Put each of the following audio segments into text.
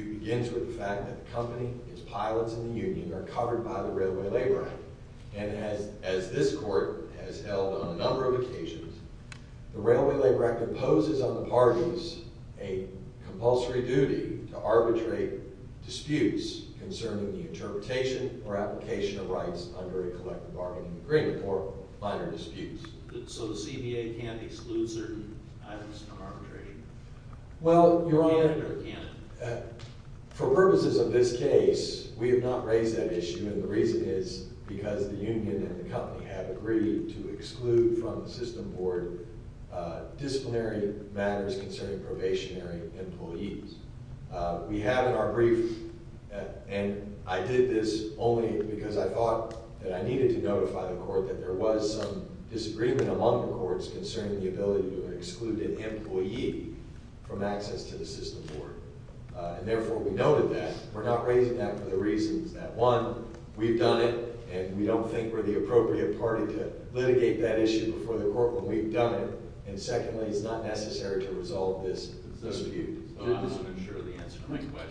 Incorporated. Argument not to exceed 15 minutes of the argument not to exceed 15 minutes of the argument not to exceed 15 minutes of the argument not to exceed 15 minutes of the argument not to exceed 15 minutes of the argument not to exceed 15 minutes of the argument The Railway Labor Act imposes on the parties a compulsory duty to arbitrate disputes concerning the interpretation or application of rights under a collective bargaining agreement or minor disputes So the CBA can't exclude certain items from arbitration? Well, Your Honor, for purposes of this case, we have not raised that issue and the reason is because the union and the company have agreed to exclude from the system board disciplinary matters concerning probationary employees We have in our brief and I did this only because I thought that I needed to notify the court that there was some disagreement among the courts concerning the ability to exclude an employee from access to the system board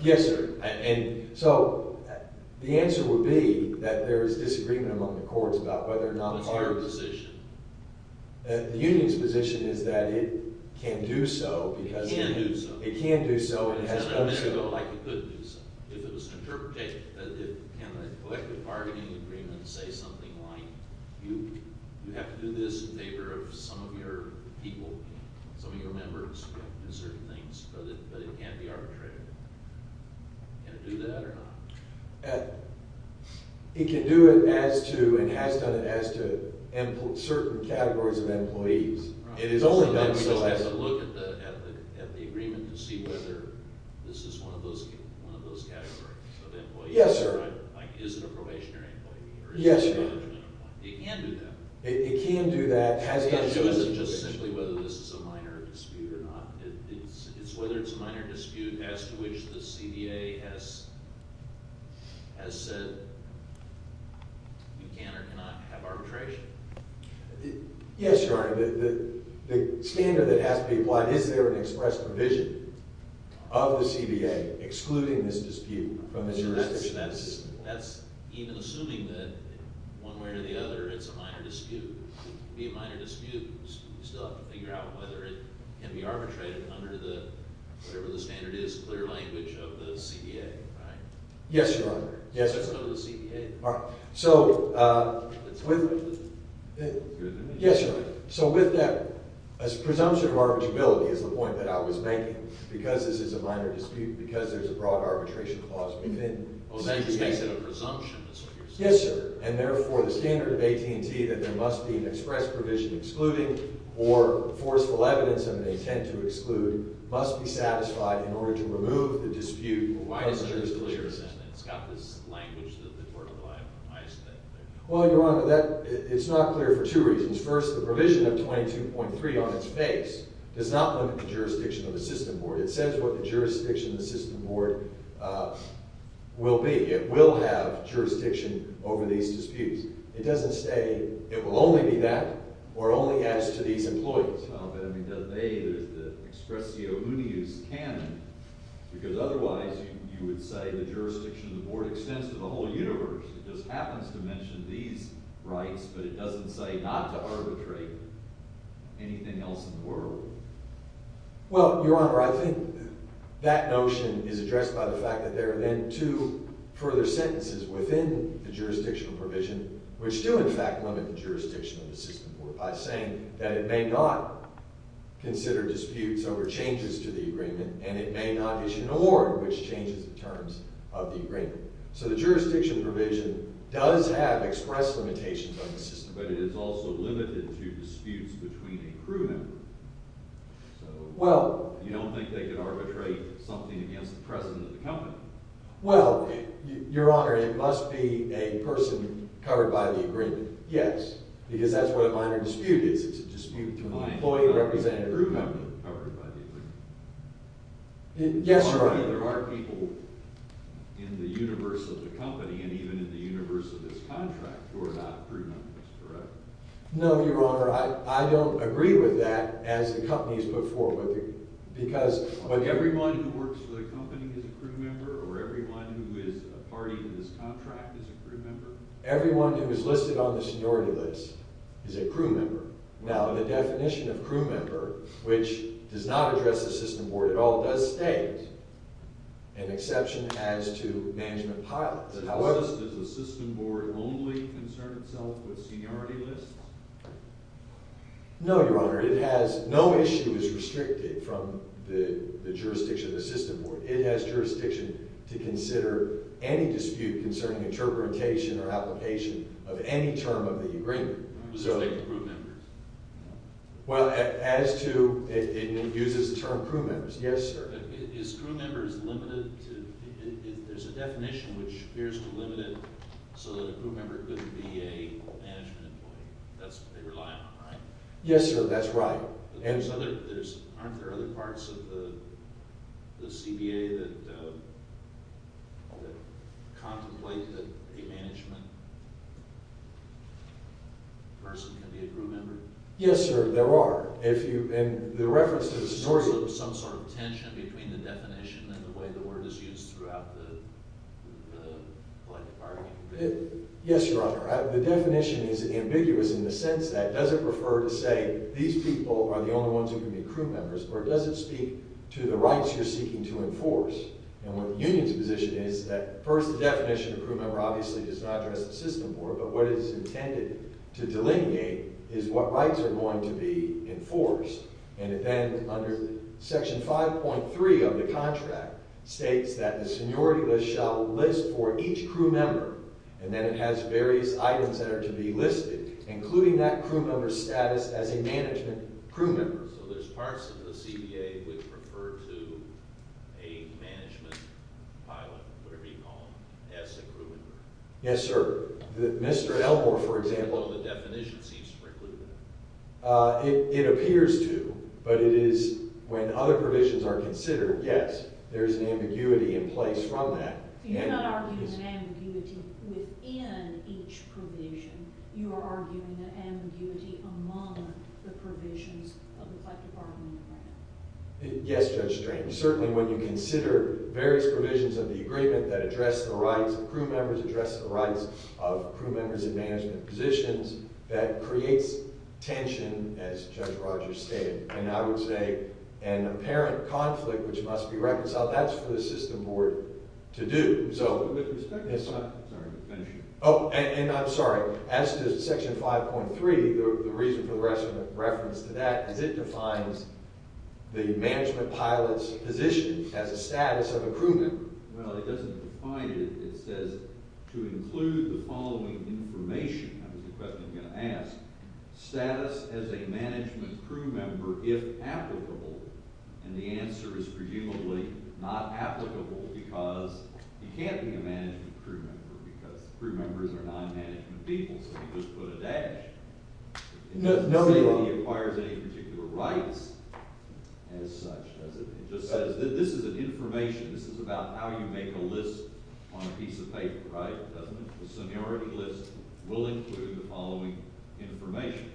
Yes, sir. And so the answer would be that there is disagreement among the courts about whether or not What's your position? The union's position is that it can do so because It can do so It can do so If it was an interpretation, can a collective bargaining agreement say something like, you have to do this in favor of some of your people, some of your members in certain things, but it can't be arbitrated? Can it do that or not? It can do it as to and has done it as to certain categories of employees So we have to look at the agreement to see whether this is one of those categories of employees Yes, sir Like is it a probationary employee? Yes, sir It can do that It can do that It shows us just simply whether this is a minor dispute or not It's whether it's a minor dispute as to which the CDA has said we can or cannot have arbitration Yes, your honor, the standard that has to be applied, is there an express provision of the CDA excluding this dispute from the jurisdiction? That's even assuming that one way or the other it's a minor dispute It can be a minor dispute, we still have to figure out whether it can be arbitrated under the, whatever the standard is, clear language of the CDA, right? Yes, your honor So it's under the CDA Yes, your honor, so with that, a presumption of arbitrability is the point that I was making Because this is a minor dispute, because there's a broad arbitration clause within the CDA Oh, that just makes it a presumption, that's what you're saying Yes, sir, and therefore the standard of AT&T that there must be an express provision excluding or forceful evidence of an intent to exclude must be satisfied in order to remove the dispute from the jurisdiction It's got this language that the court will have in place Well, your honor, it's not clear for two reasons First, the provision of 22.3 on its face does not limit the jurisdiction of the system board It says what the jurisdiction of the system board will be It will have jurisdiction over these disputes It doesn't say it will only be that, or only as to these employees There's the expressio unius canon Because otherwise you would say the jurisdiction of the board extends to the whole universe It just happens to mention these rights, but it doesn't say not to arbitrate anything else in the world Well, your honor, I think that notion is addressed by the fact that there are then two further sentences within the jurisdictional provision which do in fact limit the jurisdiction of the system board by saying that it may not consider disputes over changes to the agreement and it may not issue an award which changes the terms of the agreement So the jurisdiction provision does have express limitations on the system board But it is also limited to disputes between a crew member So you don't think they could arbitrate something against the president of the company? Well, your honor, it must be a person covered by the agreement Yes, because that's what a minor dispute is It's a dispute between an employee and a representative of the company Your honor, there are people in the universe of the company and even in the universe of this contract who are not crew members, correct? No, your honor, I don't agree with that as the company is put forward with the agreement Everyone who works for the company is a crew member or everyone who is a party in this contract is a crew member? Everyone who is listed on the seniority list is a crew member Now, the definition of crew member, which does not address the system board at all, does state an exception as to management pilots Does the system board only concern itself with seniority lists? No, your honor, no issue is restricted from the jurisdiction of the system board It has jurisdiction to consider any dispute concerning interpretation or application of any term of the agreement So it's like crew members? Well, it uses the term crew members, yes, sir Is crew members limited? There's a definition which appears to limit it so that a crew member could be a management employee That's what they rely on, right? Yes, sir, that's right Aren't there other parts of the CBA that contemplate that a management person can be a crew member? Yes, sir, there are Is there some sort of tension between the definition and the way the word is used throughout the collective bargaining committee? Yes, your honor, the definition is ambiguous in the sense that does it refer to say these people are the only ones who can be crew members or does it speak to the rights you're seeking to enforce? And what the union's position is that first the definition of crew member obviously does not address the system board but what is intended to delineate is what rights are going to be enforced and then under section 5.3 of the contract states that the seniority list shall list for each crew member and then it has various items that are to be listed including that crew member's status as a management crew member So there's parts of the CBA which refer to a management pilot, whatever you call them, as a crew member Yes, sir, Mr. Elmore, for example So the definition seems to preclude that It appears to, but it is when other provisions are considered, yes, there is an ambiguity in place from that So you're not arguing an ambiguity within each provision, you are arguing an ambiguity among the provisions of the collective bargaining agreement Yes, Judge Strange, certainly when you consider various provisions of the agreement that address the rights of crew members address the rights of crew members in management positions, that creates tension as Judge Rogers stated and I would say an apparent conflict which must be reconciled, that's for the system board to do Oh, and I'm sorry, as to section 5.3, the reason for the reference to that is it defines the management pilot's position as a status of a crew member Well, it doesn't define it, it says to include the following information, that was the question I was going to ask Status as a management crew member, if applicable, and the answer is presumably not applicable because you can't be a management crew member because crew members are non-management people, so you just put a dash It doesn't say that he acquires any particular rights as such, does it? It just says, this is an information, this is about how you make a list on a piece of paper, right? The seniority list will include the following information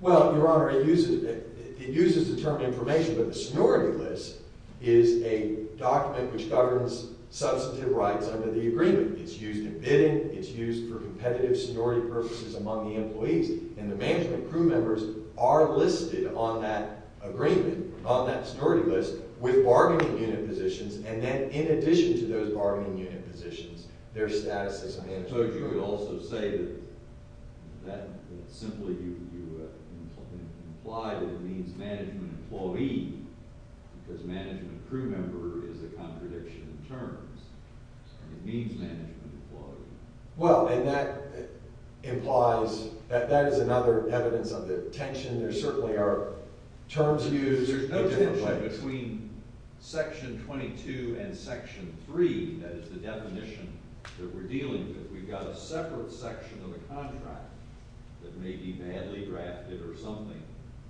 Well, Your Honor, it uses the term information, but the seniority list is a document which governs substantive rights under the agreement It's used in bidding, it's used for competitive seniority purposes among the employees and the management crew members are listed on that agreement, on that seniority list, with bargaining unit positions and then in addition to those bargaining unit positions, their status is management So you would also say that, simply you imply that it means management employee because management crew member is a contradiction of terms, so it means management employee Well, and that implies, that is another evidence of the tension, there certainly are terms used There's no tension between section 22 and section 3, that is the definition that we're dealing with We've got a separate section of the contract that may be badly drafted or something,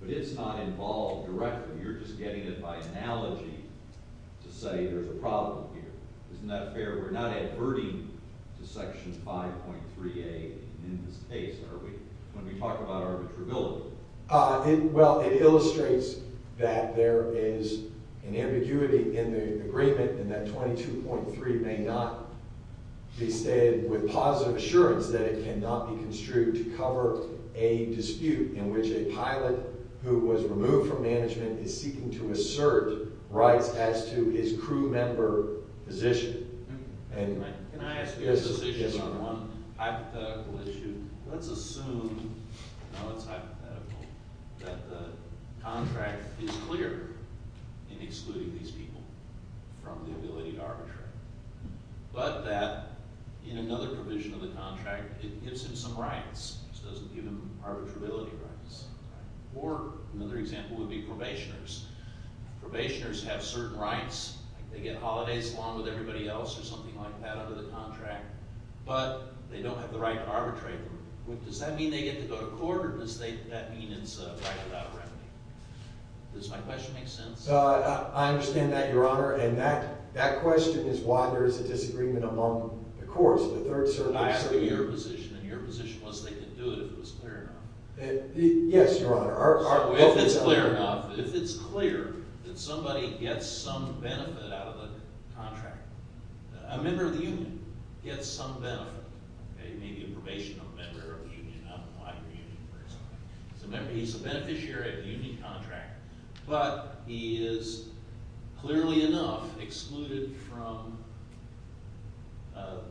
but it's not involved directly You're just getting it by analogy to say there's a problem here Isn't that fair? We're not adverting to section 5.3a in this case, are we? When we talk about arbitrability Well, it illustrates that there is an ambiguity in the agreement and that 22.3 may not be stated with positive assurance that it cannot be construed to cover a dispute in which a pilot who was removed from management is seeking to assert rights as to his crew member position Can I ask you a question on one hypothetical issue? Let's assume that the contract is clear in excluding these people from the ability to arbitrate But that in another provision of the contract, it gives him some rights It doesn't give him arbitrability rights Or another example would be probationers Probationers have certain rights They get holidays along with everybody else or something like that under the contract But they don't have the right to arbitrate Does that mean they get to go to court or does that mean it's right without remedy? Does my question make sense? I understand that, Your Honor, and that question is why there is a disagreement among the courts I ask for your position, and your position was they could do it if it was clear enough Yes, Your Honor If it's clear enough, if it's clear that somebody gets some benefit out of the contract A member of the union gets some benefit Maybe a probationer member of the union, I don't know why you're a union person He's a beneficiary of the union contract But he is clearly enough excluded from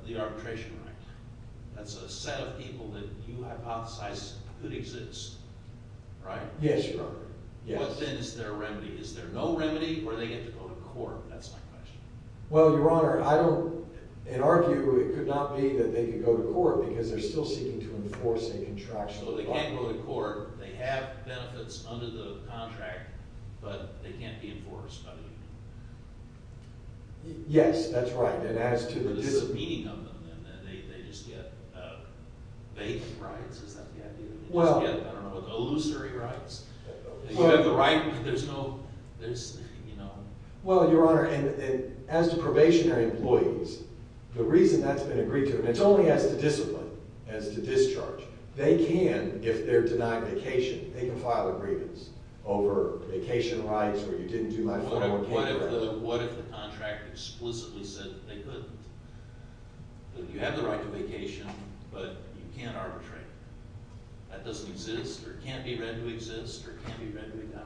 the arbitration right That's a set of people that you hypothesize could exist, right? Yes, Your Honor What then is their remedy? Is there no remedy or do they get to go to court? That's my question Well, Your Honor, in our view, it could not be that they could go to court Because they're still seeking to enforce a contraction of the bond So they can't go to court, they have benefits under the contract But they can't be enforced by the union Yes, that's right What is the meaning of them then? They just get vague rights, is that the idea? They just get, I don't know, illusory rights You have the right, but there's no, you know Well, Your Honor, as to probationary employees, the reason that's been agreed to It's only as to discipline, as to discharge They can, if they're denied vacation, they can file agreements over vacation rights What if the contract explicitly said that they couldn't? You have the right to vacation, but you can't arbitrate That doesn't exist, or it can't be read to exist, or it can't be read to be done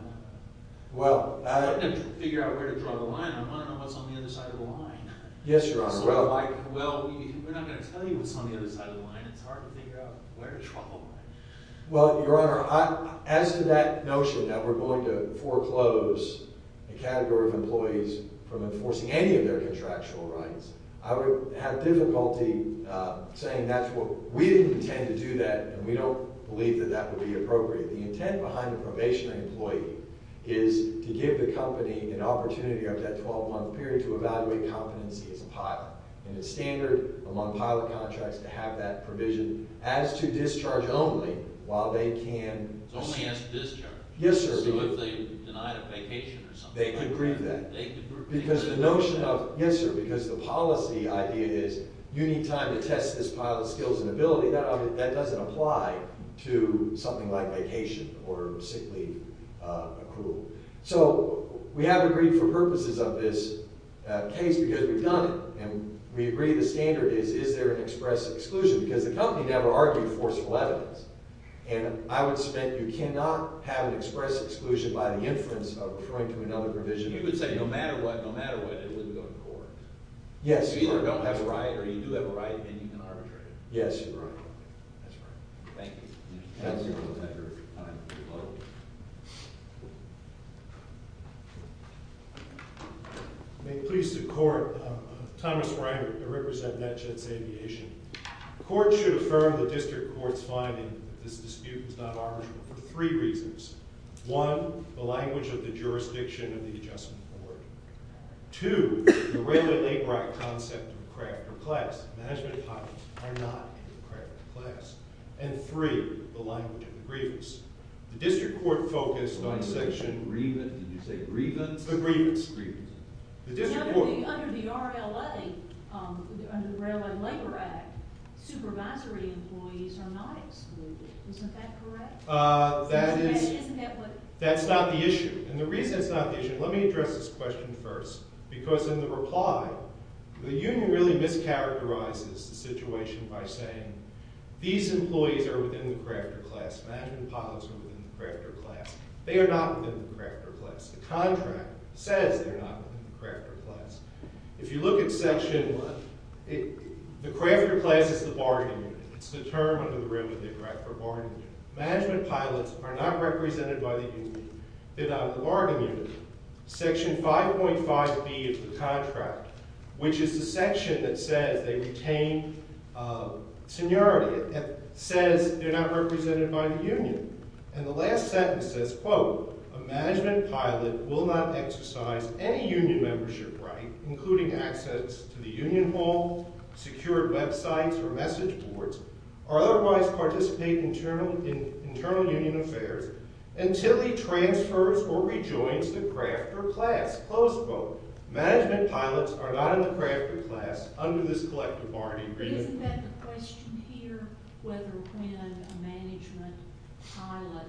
I'm trying to figure out where to draw the line, I want to know what's on the other side of the line Yes, Your Honor Well, we're not going to tell you what's on the other side of the line It's hard to figure out where to draw the line Well, Your Honor, as to that notion that we're going to foreclose A category of employees from enforcing any of their contractual rights I would have difficulty saying that's what, we didn't intend to do that And we don't believe that that would be appropriate The intent behind the probationary employee is to give the company an opportunity After that 12-month period to evaluate competency as a pilot And it's standard among pilot contracts to have that provision As to discharge only while they can Only as discharge? Yes, sir So if they denied a vacation or something like that They can grieve that Because the notion of, yes sir, because the policy idea is You need time to test this pilot skills and ability That doesn't apply to something like vacation or sick leave accrual So we have agreed for purposes of this case because we've done it And we agree the standard is, is there an express exclusion Because the company never argued forceful evidence And I would suspect you cannot have an express exclusion By the inference of referring to another provision You would say no matter what, no matter what, it wouldn't go to court Yes You either don't have a right or you do have a right and you can arbitrate Yes, Your Honor That's right Thank you Thank you Have a good time May it please the court I'm Thomas Ryan, I represent Natchez Aviation The court should affirm the district court's finding That this dispute is not arbitrable for three reasons One, the language of the jurisdiction of the adjustment board Two, the relatively bright concept of craft per class Management pilots are not in the craft per class And three, the language of the grievance The district court focused on section Did you say grievance? The grievance Under the RLA, under the Railway Labor Act Supervisory employees are not excluded Isn't that correct? That is Isn't that what That's not the issue And the reason it's not the issue Let me address this question first Because in the reply The union really mischaracterizes the situation by saying These employees are within the craft per class Management pilots are within the craft per class They are not within the craft per class The contract says they are not within the craft per class If you look at section The craft per class is the bargaining unit It's the term under the River Management pilots are not represented by the union They are not in the bargaining unit Section 5.5B of the contract Which is the section that says they retain seniority It says they are not represented by the union And the last sentence says A management pilot will not exercise any union membership right Including access to the union hall Secured websites or message boards Or otherwise participate in internal union affairs Until he transfers or rejoins the craft per class Management pilots are not in the craft per class Under this collective bargaining agreement Isn't that the question here? Whether when a management pilot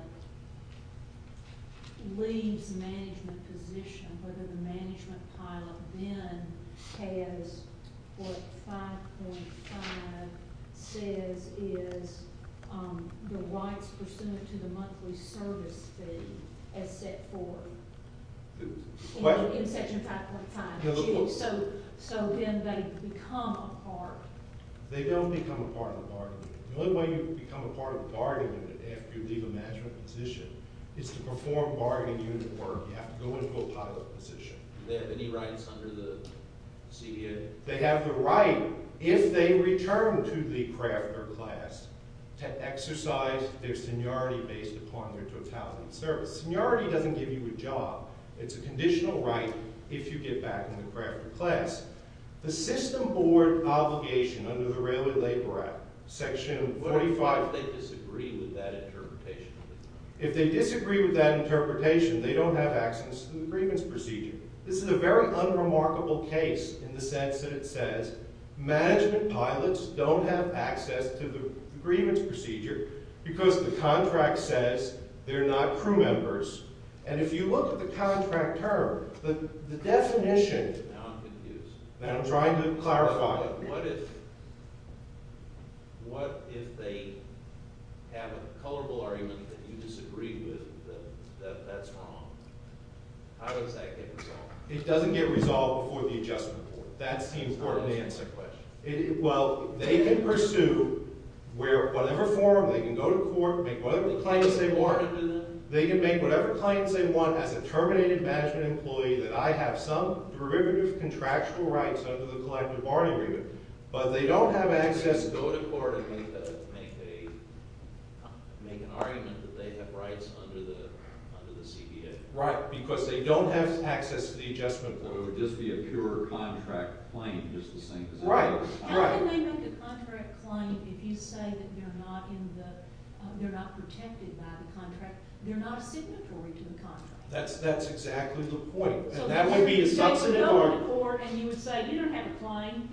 Leaves management position Whether the management pilot then has What 5.5 says is The rights pursuant to the monthly service fee As set forth In section 5.5 So then they become a part They don't become a part of the bargaining The only way you become a part of the bargaining unit If you leave a management position Is to perform bargaining unit work You have to go into a pilot position Do they have any rights under the CBA? They have the right If they return to the craft per class To exercise their seniority Based upon their totality of service Seniority doesn't give you a job It's a conditional right If you get back into the craft per class The system board obligation Under the Railway Labor Act Section 45 If they disagree with that interpretation They don't have access to the agreements procedure This is a very unremarkable case In the sense that it says Management pilots don't have access To the agreements procedure Because the contract says They're not crew members And if you look at the contract term The definition Now I'm trying to clarify What if What if they Have a colorable argument That you disagree with That that's wrong How does that get resolved? It doesn't get resolved before the adjustment court That's the important answer Well they can pursue Where whatever form They can go to court They can make whatever claims they want As a terminated management employee That I have some Prohibitive contractual rights Under the collective bargaining agreement But they don't have access To go to court And make an argument That they have rights under the CBA Right, because they don't have access To the adjustment court It would just be a pure contract claim Right How can they make a contract claim If you say that they're not Protected by the contract They're not a signatory to the contract That's exactly the point So they would go to court And you would say you don't have a claim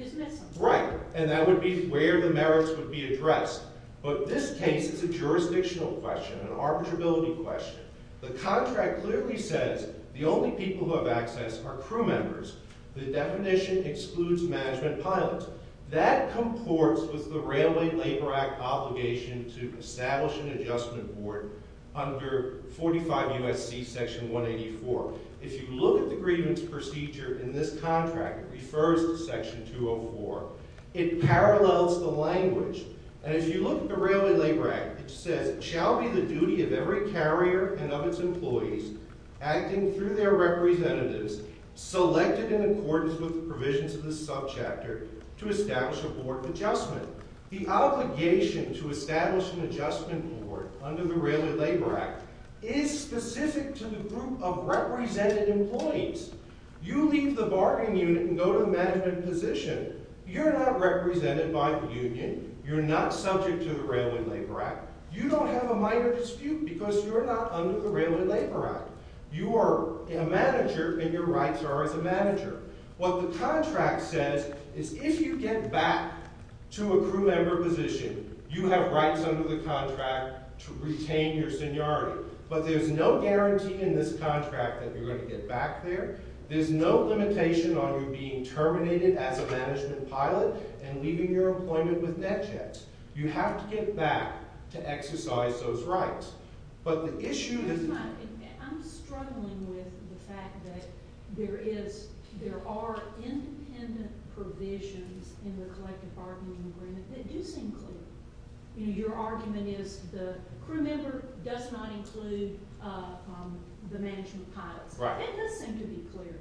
Right, and that would be where The merits would be addressed But this case is a jurisdictional question An arbitrability question The contract clearly says The only people who have access are crew members The definition excludes Management pilots That comports with the Railway Labor Act Obligation to establish An adjustment court Under 45 U.S.C. Section 184 If you look at the grievance procedure In this contract, it refers to Section 204 It parallels the language And if you look at the Railway Labor Act It says, shall be the duty of every carrier And of its employees Acting through their representatives Selected in accordance with The provisions of this subchapter To establish a board adjustment The obligation to establish An adjustment board Under the Railway Labor Act Is specific to the group of represented Employees You leave the bargaining unit and go to the management position You're not represented By the union You're not subject to the Railway Labor Act You don't have a minor dispute Because you're not under the Railway Labor Act You are a manager And your rights are as a manager What the contract says Is if you get back To a crew member position You have rights under the contract To retain your seniority But there's no guarantee in this contract That you're going to get back there There's no limitation on you being Terminated as a management pilot And leaving your employment with net jets You have to get back To exercise those rights But the issue I'm struggling with the fact That there is There are independent Provisions in the collective Bargaining agreement that do seem clear Your argument is The crew member does not include The management pilot It does seem to be clear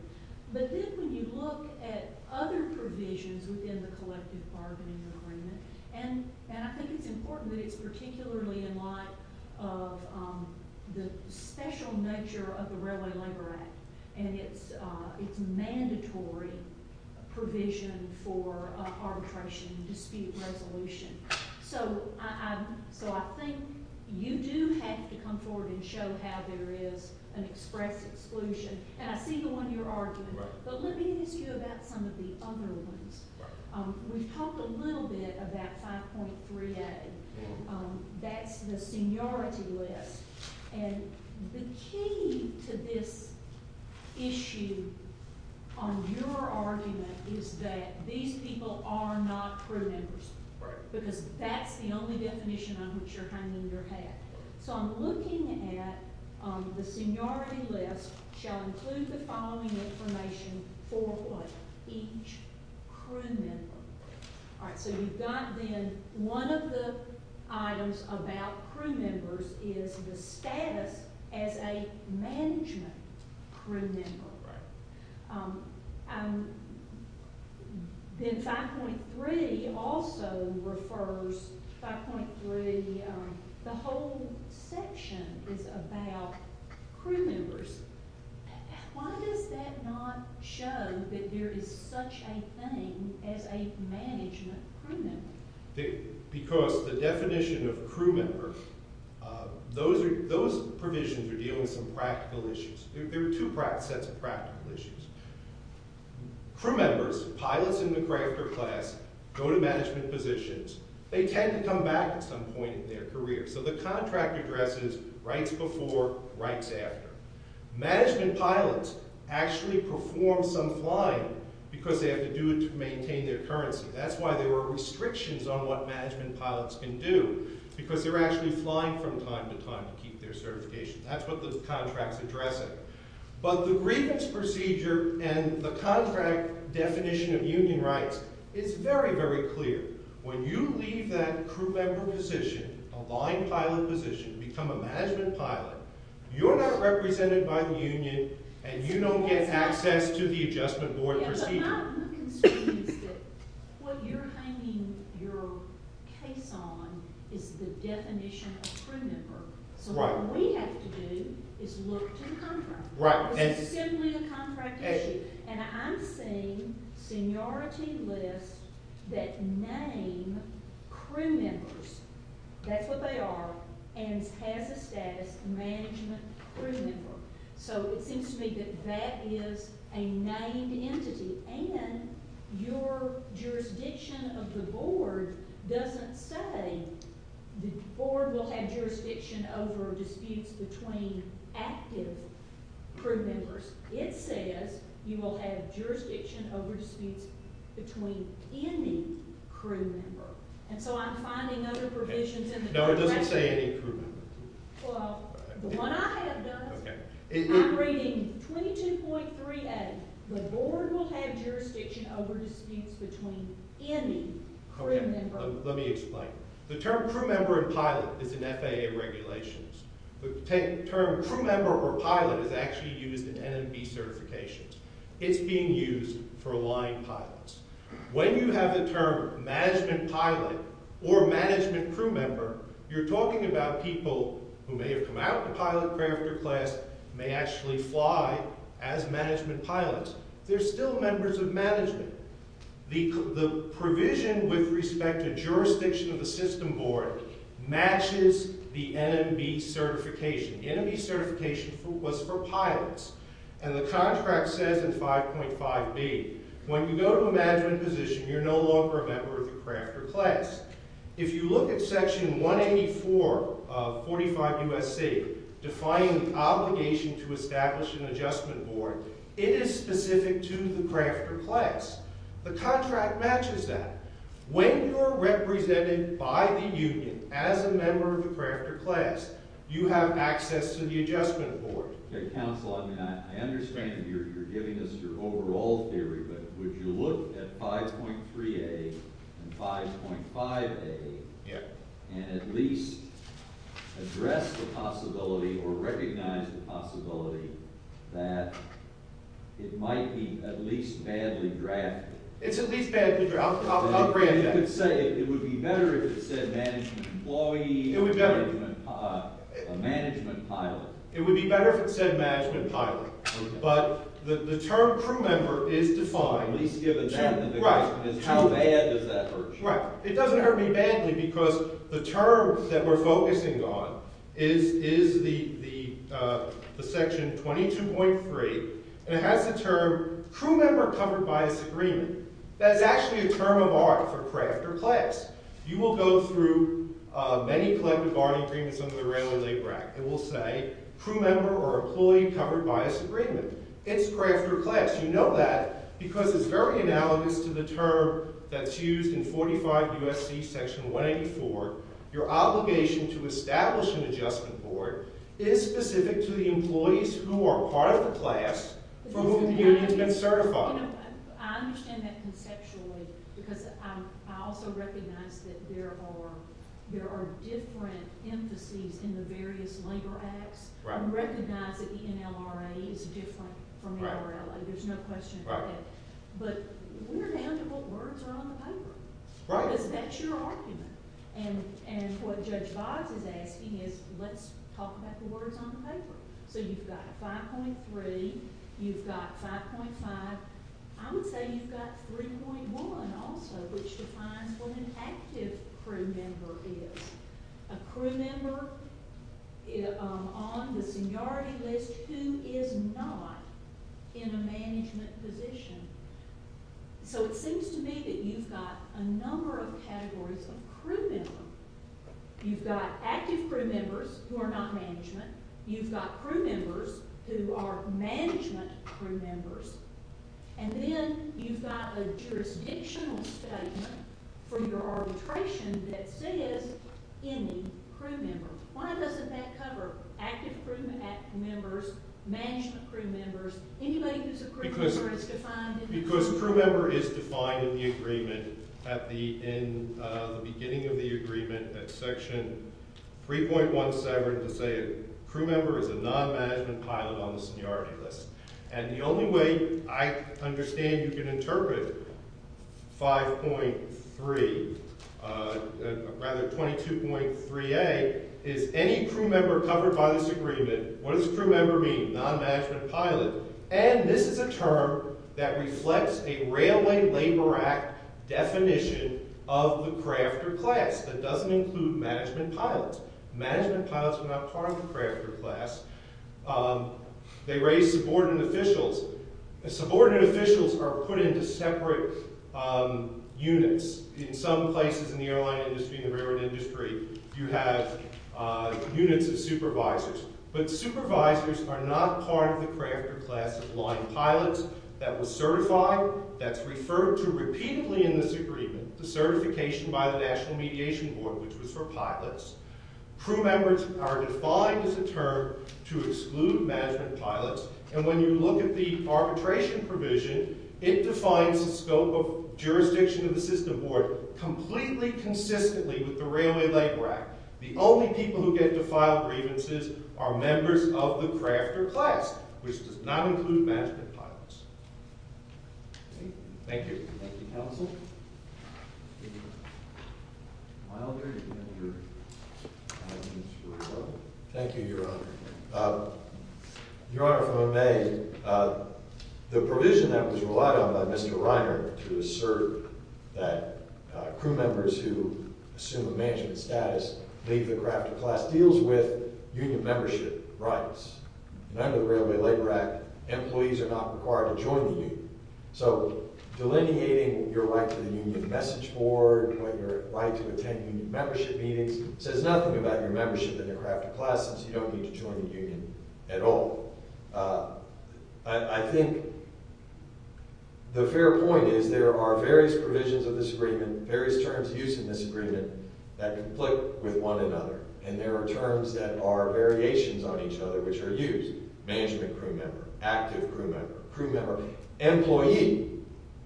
But then when you look At other provisions within The collective bargaining agreement And I think it's important that it's Particularly in light of The special Nature of the Railway Labor Act And it's mandatory Provision for Arbitration and dispute Resolution So I think You do have to come forward and show How there is an express exclusion And I see the one you're arguing But let me ask you about some of the Other ones We've talked a little bit about 5.3a That's The seniority list And the key To this issue On your argument Is that these people Are not crew members Because that's the only definition On which you're hanging your hat So I'm looking at The seniority list Shall include the following information For what? Each crew member So you've got then One of the items about Crew members is the status As a management Crew member Then 5.3 Also refers 5.3 The whole section Is about Crew members Why does that not show That there is such a thing As a management crew member? Because the Definition of crew member Those Those provisions are dealing With some practical issues There are two sets of practical issues Crew members Pilots in the crafter class Go to management positions They tend to come back at some point in their career So the contract addresses Rights before, rights after Management pilots Actually perform some flying Because they have to do it to maintain their currency That's why there are restrictions On what management pilots can do Because they're actually flying from time to time To keep their certification That's what the contract's addressing But the grievance procedure And the contract definition Of union rights is very very clear When you leave that Crew member position A line pilot position Become a management pilot You're not represented by the union And you don't get access to the adjustment board Procedure What you're hanging Your case on Is the definition of crew member So what we have to do Is look to the contract Because it's simply a contract issue And I'm seeing Seniority lists That name Crew members That's what they are And has a status management crew member So it seems to me that That is a named entity And your Jurisdiction of the board Doesn't say The board will have jurisdiction Over disputes between Active crew members It says you will have Jurisdiction over disputes Between any Crew member And so I'm finding other provisions in the contract No it doesn't say any crew member Well the one I have done I'm reading 22.38 The board will have Jurisdiction over disputes Between any crew member Let me explain The term crew member and pilot Is in FAA regulations The term crew member or pilot Is actually used in NMB certifications It's being used for line pilots When you have the term Management pilot Or management crew member You're talking about people Who may have come out to pilot After class May actually fly As management pilots They're still members of management The provision with respect To jurisdiction of the system board Matches the NMB certification NMB certification was for pilots And the contract says In 5.5b When you go to a management position You're no longer a member of the craft or class If you look at section 184 of 45 U.S.C. Defining the obligation To establish an adjustment board It is specific to the craft or class The contract matches that When you're Represented by the union As a member of the craft or class You have access to the adjustment board Counselor I understand that you're giving us Your overall theory But would you look at 5.3a And 5.5a And at least Address the possibility Or recognize the possibility That It might be at least Badly drafted I'll grant that It would be better if it said Management employee A management pilot It would be better if it said management pilot But the term crew member Is defined Right It doesn't hurt me badly Because the term That we're focusing on Is the Section 22.3 And it has the term Crew member covered bias agreement That's actually a term of art for craft or class You will go through Many collective bargaining agreements Under the railroad labor act It will say crew member or employee Covered bias agreement It's craft or class You know that because it's very analogous To the term that's used In 45 USC section 184 Your obligation to establish An adjustment board Is specific to the employees Who are part of the class For whom you have been certified I understand that conceptually Because I also recognize That there are Different emphases In the various labor acts I recognize that ENLRA Is different from NRLA There's no question about that But we're down to what words are on the paper Because that's your argument And what Judge Voss Is asking is Let's talk about the words on the paper So you've got 5.3 You've got 5.5 I would say you've got 3.1 Also which defines What an active crew member is A crew member On the Seniority list Who is not In a management position So it seems to me That you've got a number of Categories of crew members You've got active crew members Who are not management You've got crew members Who are management crew members And then you've got A jurisdictional statement For your arbitration That says any crew member Why doesn't that cover Active crew members Management crew members Anybody who's a crew member is defined Because crew member is defined In the agreement In the beginning of the agreement Section 3.17 To say a crew member Is a non-management pilot on the seniority list And the only way I understand you can interpret 5.3 Rather 22.3a Is any crew member Covered by this agreement What does crew member mean? Non-management pilot And this is a term that reflects A railway labor act Definition of the Crafter class that doesn't include Management pilots Management pilots are not part of the crafter class They raise Subordinate officials Subordinate officials are put into separate Units In some places in the airline industry In the railroad industry You have units of supervisors But supervisors are not Part of the crafter class Of line pilots that was certified That's referred to repeatedly In this agreement The certification by the national mediation board Which was for pilots Crew members are defined as a term To exclude management pilots And when you look at the arbitration provision It defines the scope Of jurisdiction of the system board Completely consistently With the railway labor act The only people who get to file grievances Are members of the crafter class Which does not include management pilots Thank you Thank you your honor Your honor from MA The provision That was relied on by Mr. Reiner To assert That crew members who Assume a management status Leave the crafter class deals with Union membership rights And under the railway labor act Employees are not required to join the union So delineating Your right to the union message board Or your right to attend union membership meetings Says nothing about your membership In the crafter class since you don't need to join the union At all I think The fair point Is there are various provisions of this agreement Various terms used in this agreement That conflict with one another And there are terms that are Variations on each other which are used Management crew member Active crew member Employee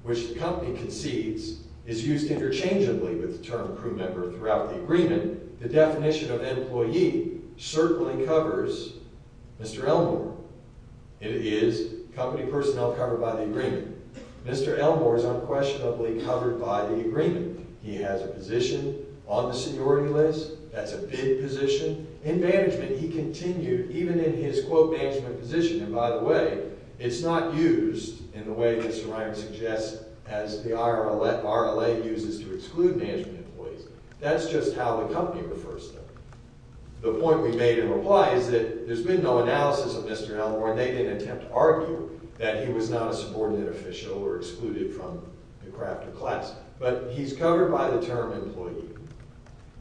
Which the company concedes is used interchangeably With the term crew member throughout the agreement The definition of employee Certainly covers Mr. Elmore It is company personnel Covered by the agreement Mr. Elmore is unquestionably covered by the agreement He has a position On the seniority list That's a bid position In management he continued even in his Quote management position and by the way It's not used in the way Mr. Reiner suggests as the RLA uses to exclude Management employees That's just how the company refers to them The point we made in reply is that There's been no analysis of Mr. Elmore And they didn't attempt to argue That he was not a subordinate official or excluded From the craft of class But he's covered by the term employee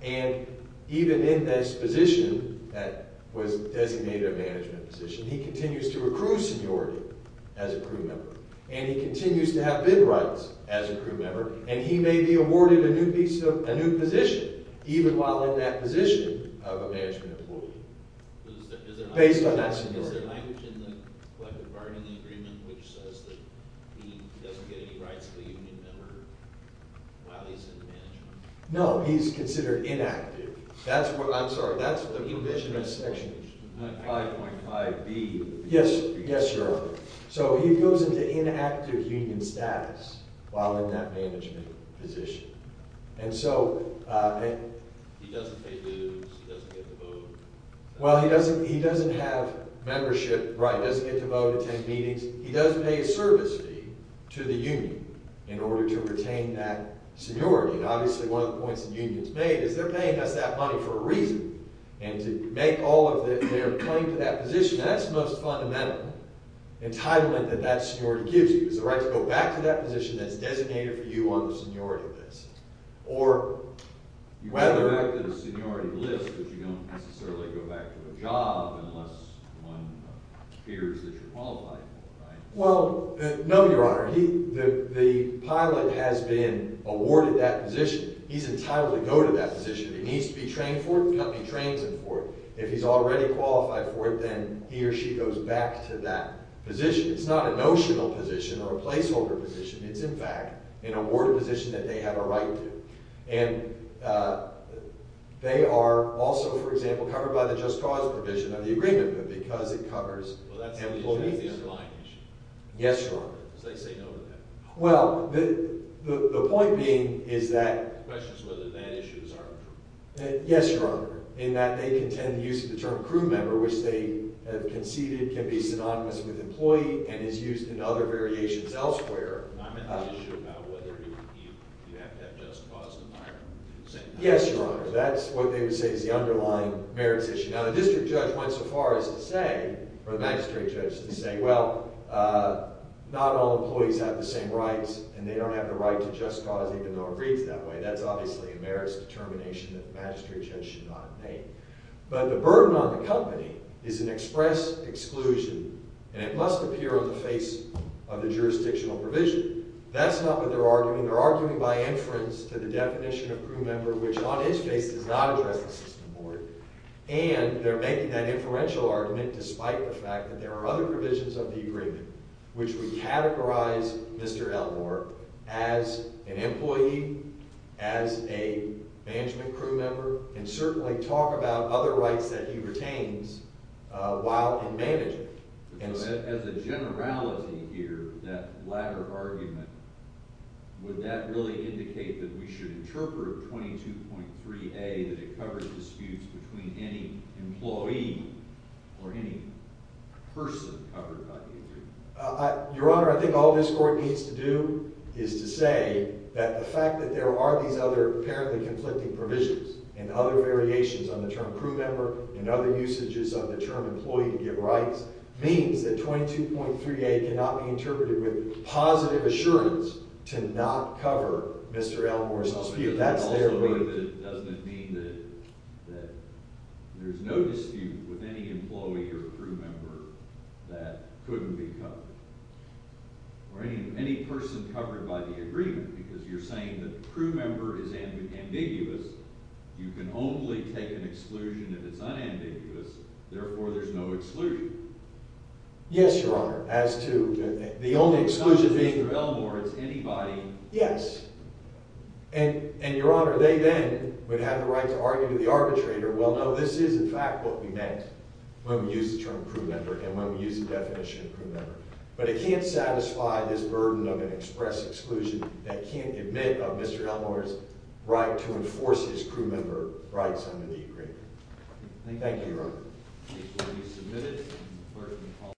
And Even in this position That was designated a management position He continues to recruit seniority As a crew member And he continues to have bid rights As a crew member and he may be awarded A new position Even while in that position Of a management employee Based on that seniority Is there language in the collective bargaining agreement Which says that he Doesn't get any rights of a union member While he's in management No, he's considered inactive That's what, I'm sorry, that's the Commissioners section 5.5b Yes, yes sir, so he goes into Inactive union status While in that management position And so He doesn't pay dues He doesn't get to vote Well he doesn't have membership Right, he doesn't get to vote, attend meetings He does pay a service fee To the union in order to Retain that seniority And obviously one of the points the unions made is They're paying us that money for a reason And to make all of their claim To that position, and that's the most fundamental Entitlement that that seniority Gives you, is the right to go back to that position That's designated for you on the seniority list Or You go back to the seniority list But you don't necessarily go back to a job Unless one Fears that you're qualified for, right? Well, no your honor The pilot has been Awarded that position He's entitled to go to that position If he needs to be trained for it, the company trains him for it If he's already qualified for it Then he or she goes back to that Position, it's not a notional position Or a placeholder position, it's in fact An awarded position that they have a right to And They are also For example, covered by the just cause provision Of the agreement, but because it covers Employees Yes your honor Well, the Point being is that Yes your honor In that they contend The use of the term crew member, which they Have conceded can be synonymous with Employee and is used in other variations Elsewhere Yes your honor That's what they would say is the underlying Merits issue, now the district judge went so far As to say, or the magistrate judge To say, well Not all employees have the same rights And they don't have the right to just cause Even though it reads that way, that's obviously a merits Determination that the magistrate judge Should not have made, but the burden On the company is an express Exclusion, and it must appear On the face of the jurisdictional Provision, that's not what they're arguing They're arguing by inference to the definition Of crew member, which on its face Does not address the system board And they're making that inferential argument Despite the fact that there are other Provisions of the agreement, which would Categorize Mr. Elmore As an employee As a Management crew member, and certainly Talk about other rights that he retains While in management As a generality Here, that latter argument Would that really Indicate that we should interpret 22.3a, that it Covers disputes between any Employee, or any Person Your honor, I think All this court needs to do, is To say, that the fact that there Are these other apparently conflicting Provisions, and other variations on the Term crew member, and other usages Of the term employee to give rights Means that 22.3a Cannot be interpreted with positive Assurance, to not cover Mr. Elmore's dispute That's their argument Doesn't it mean that There's no dispute with any employee Or crew member That couldn't be covered Or any person covered By the agreement, because you're saying That crew member is ambiguous You can only take an Exclusion if it's unambiguous Therefore there's no exclusion Yes your honor, as to The only exclusion being Mr. Elmore, it's anybody Yes, and your honor They then would have the right to argue To the arbitrator, well no, this is in fact What we meant, when we used the term Crew member, and when we used the definition Crew member, but it can't satisfy This burden of an express exclusion That can't admit of Mr. Elmore's Right to enforce his crew Member rights under the agreement Thank you your honor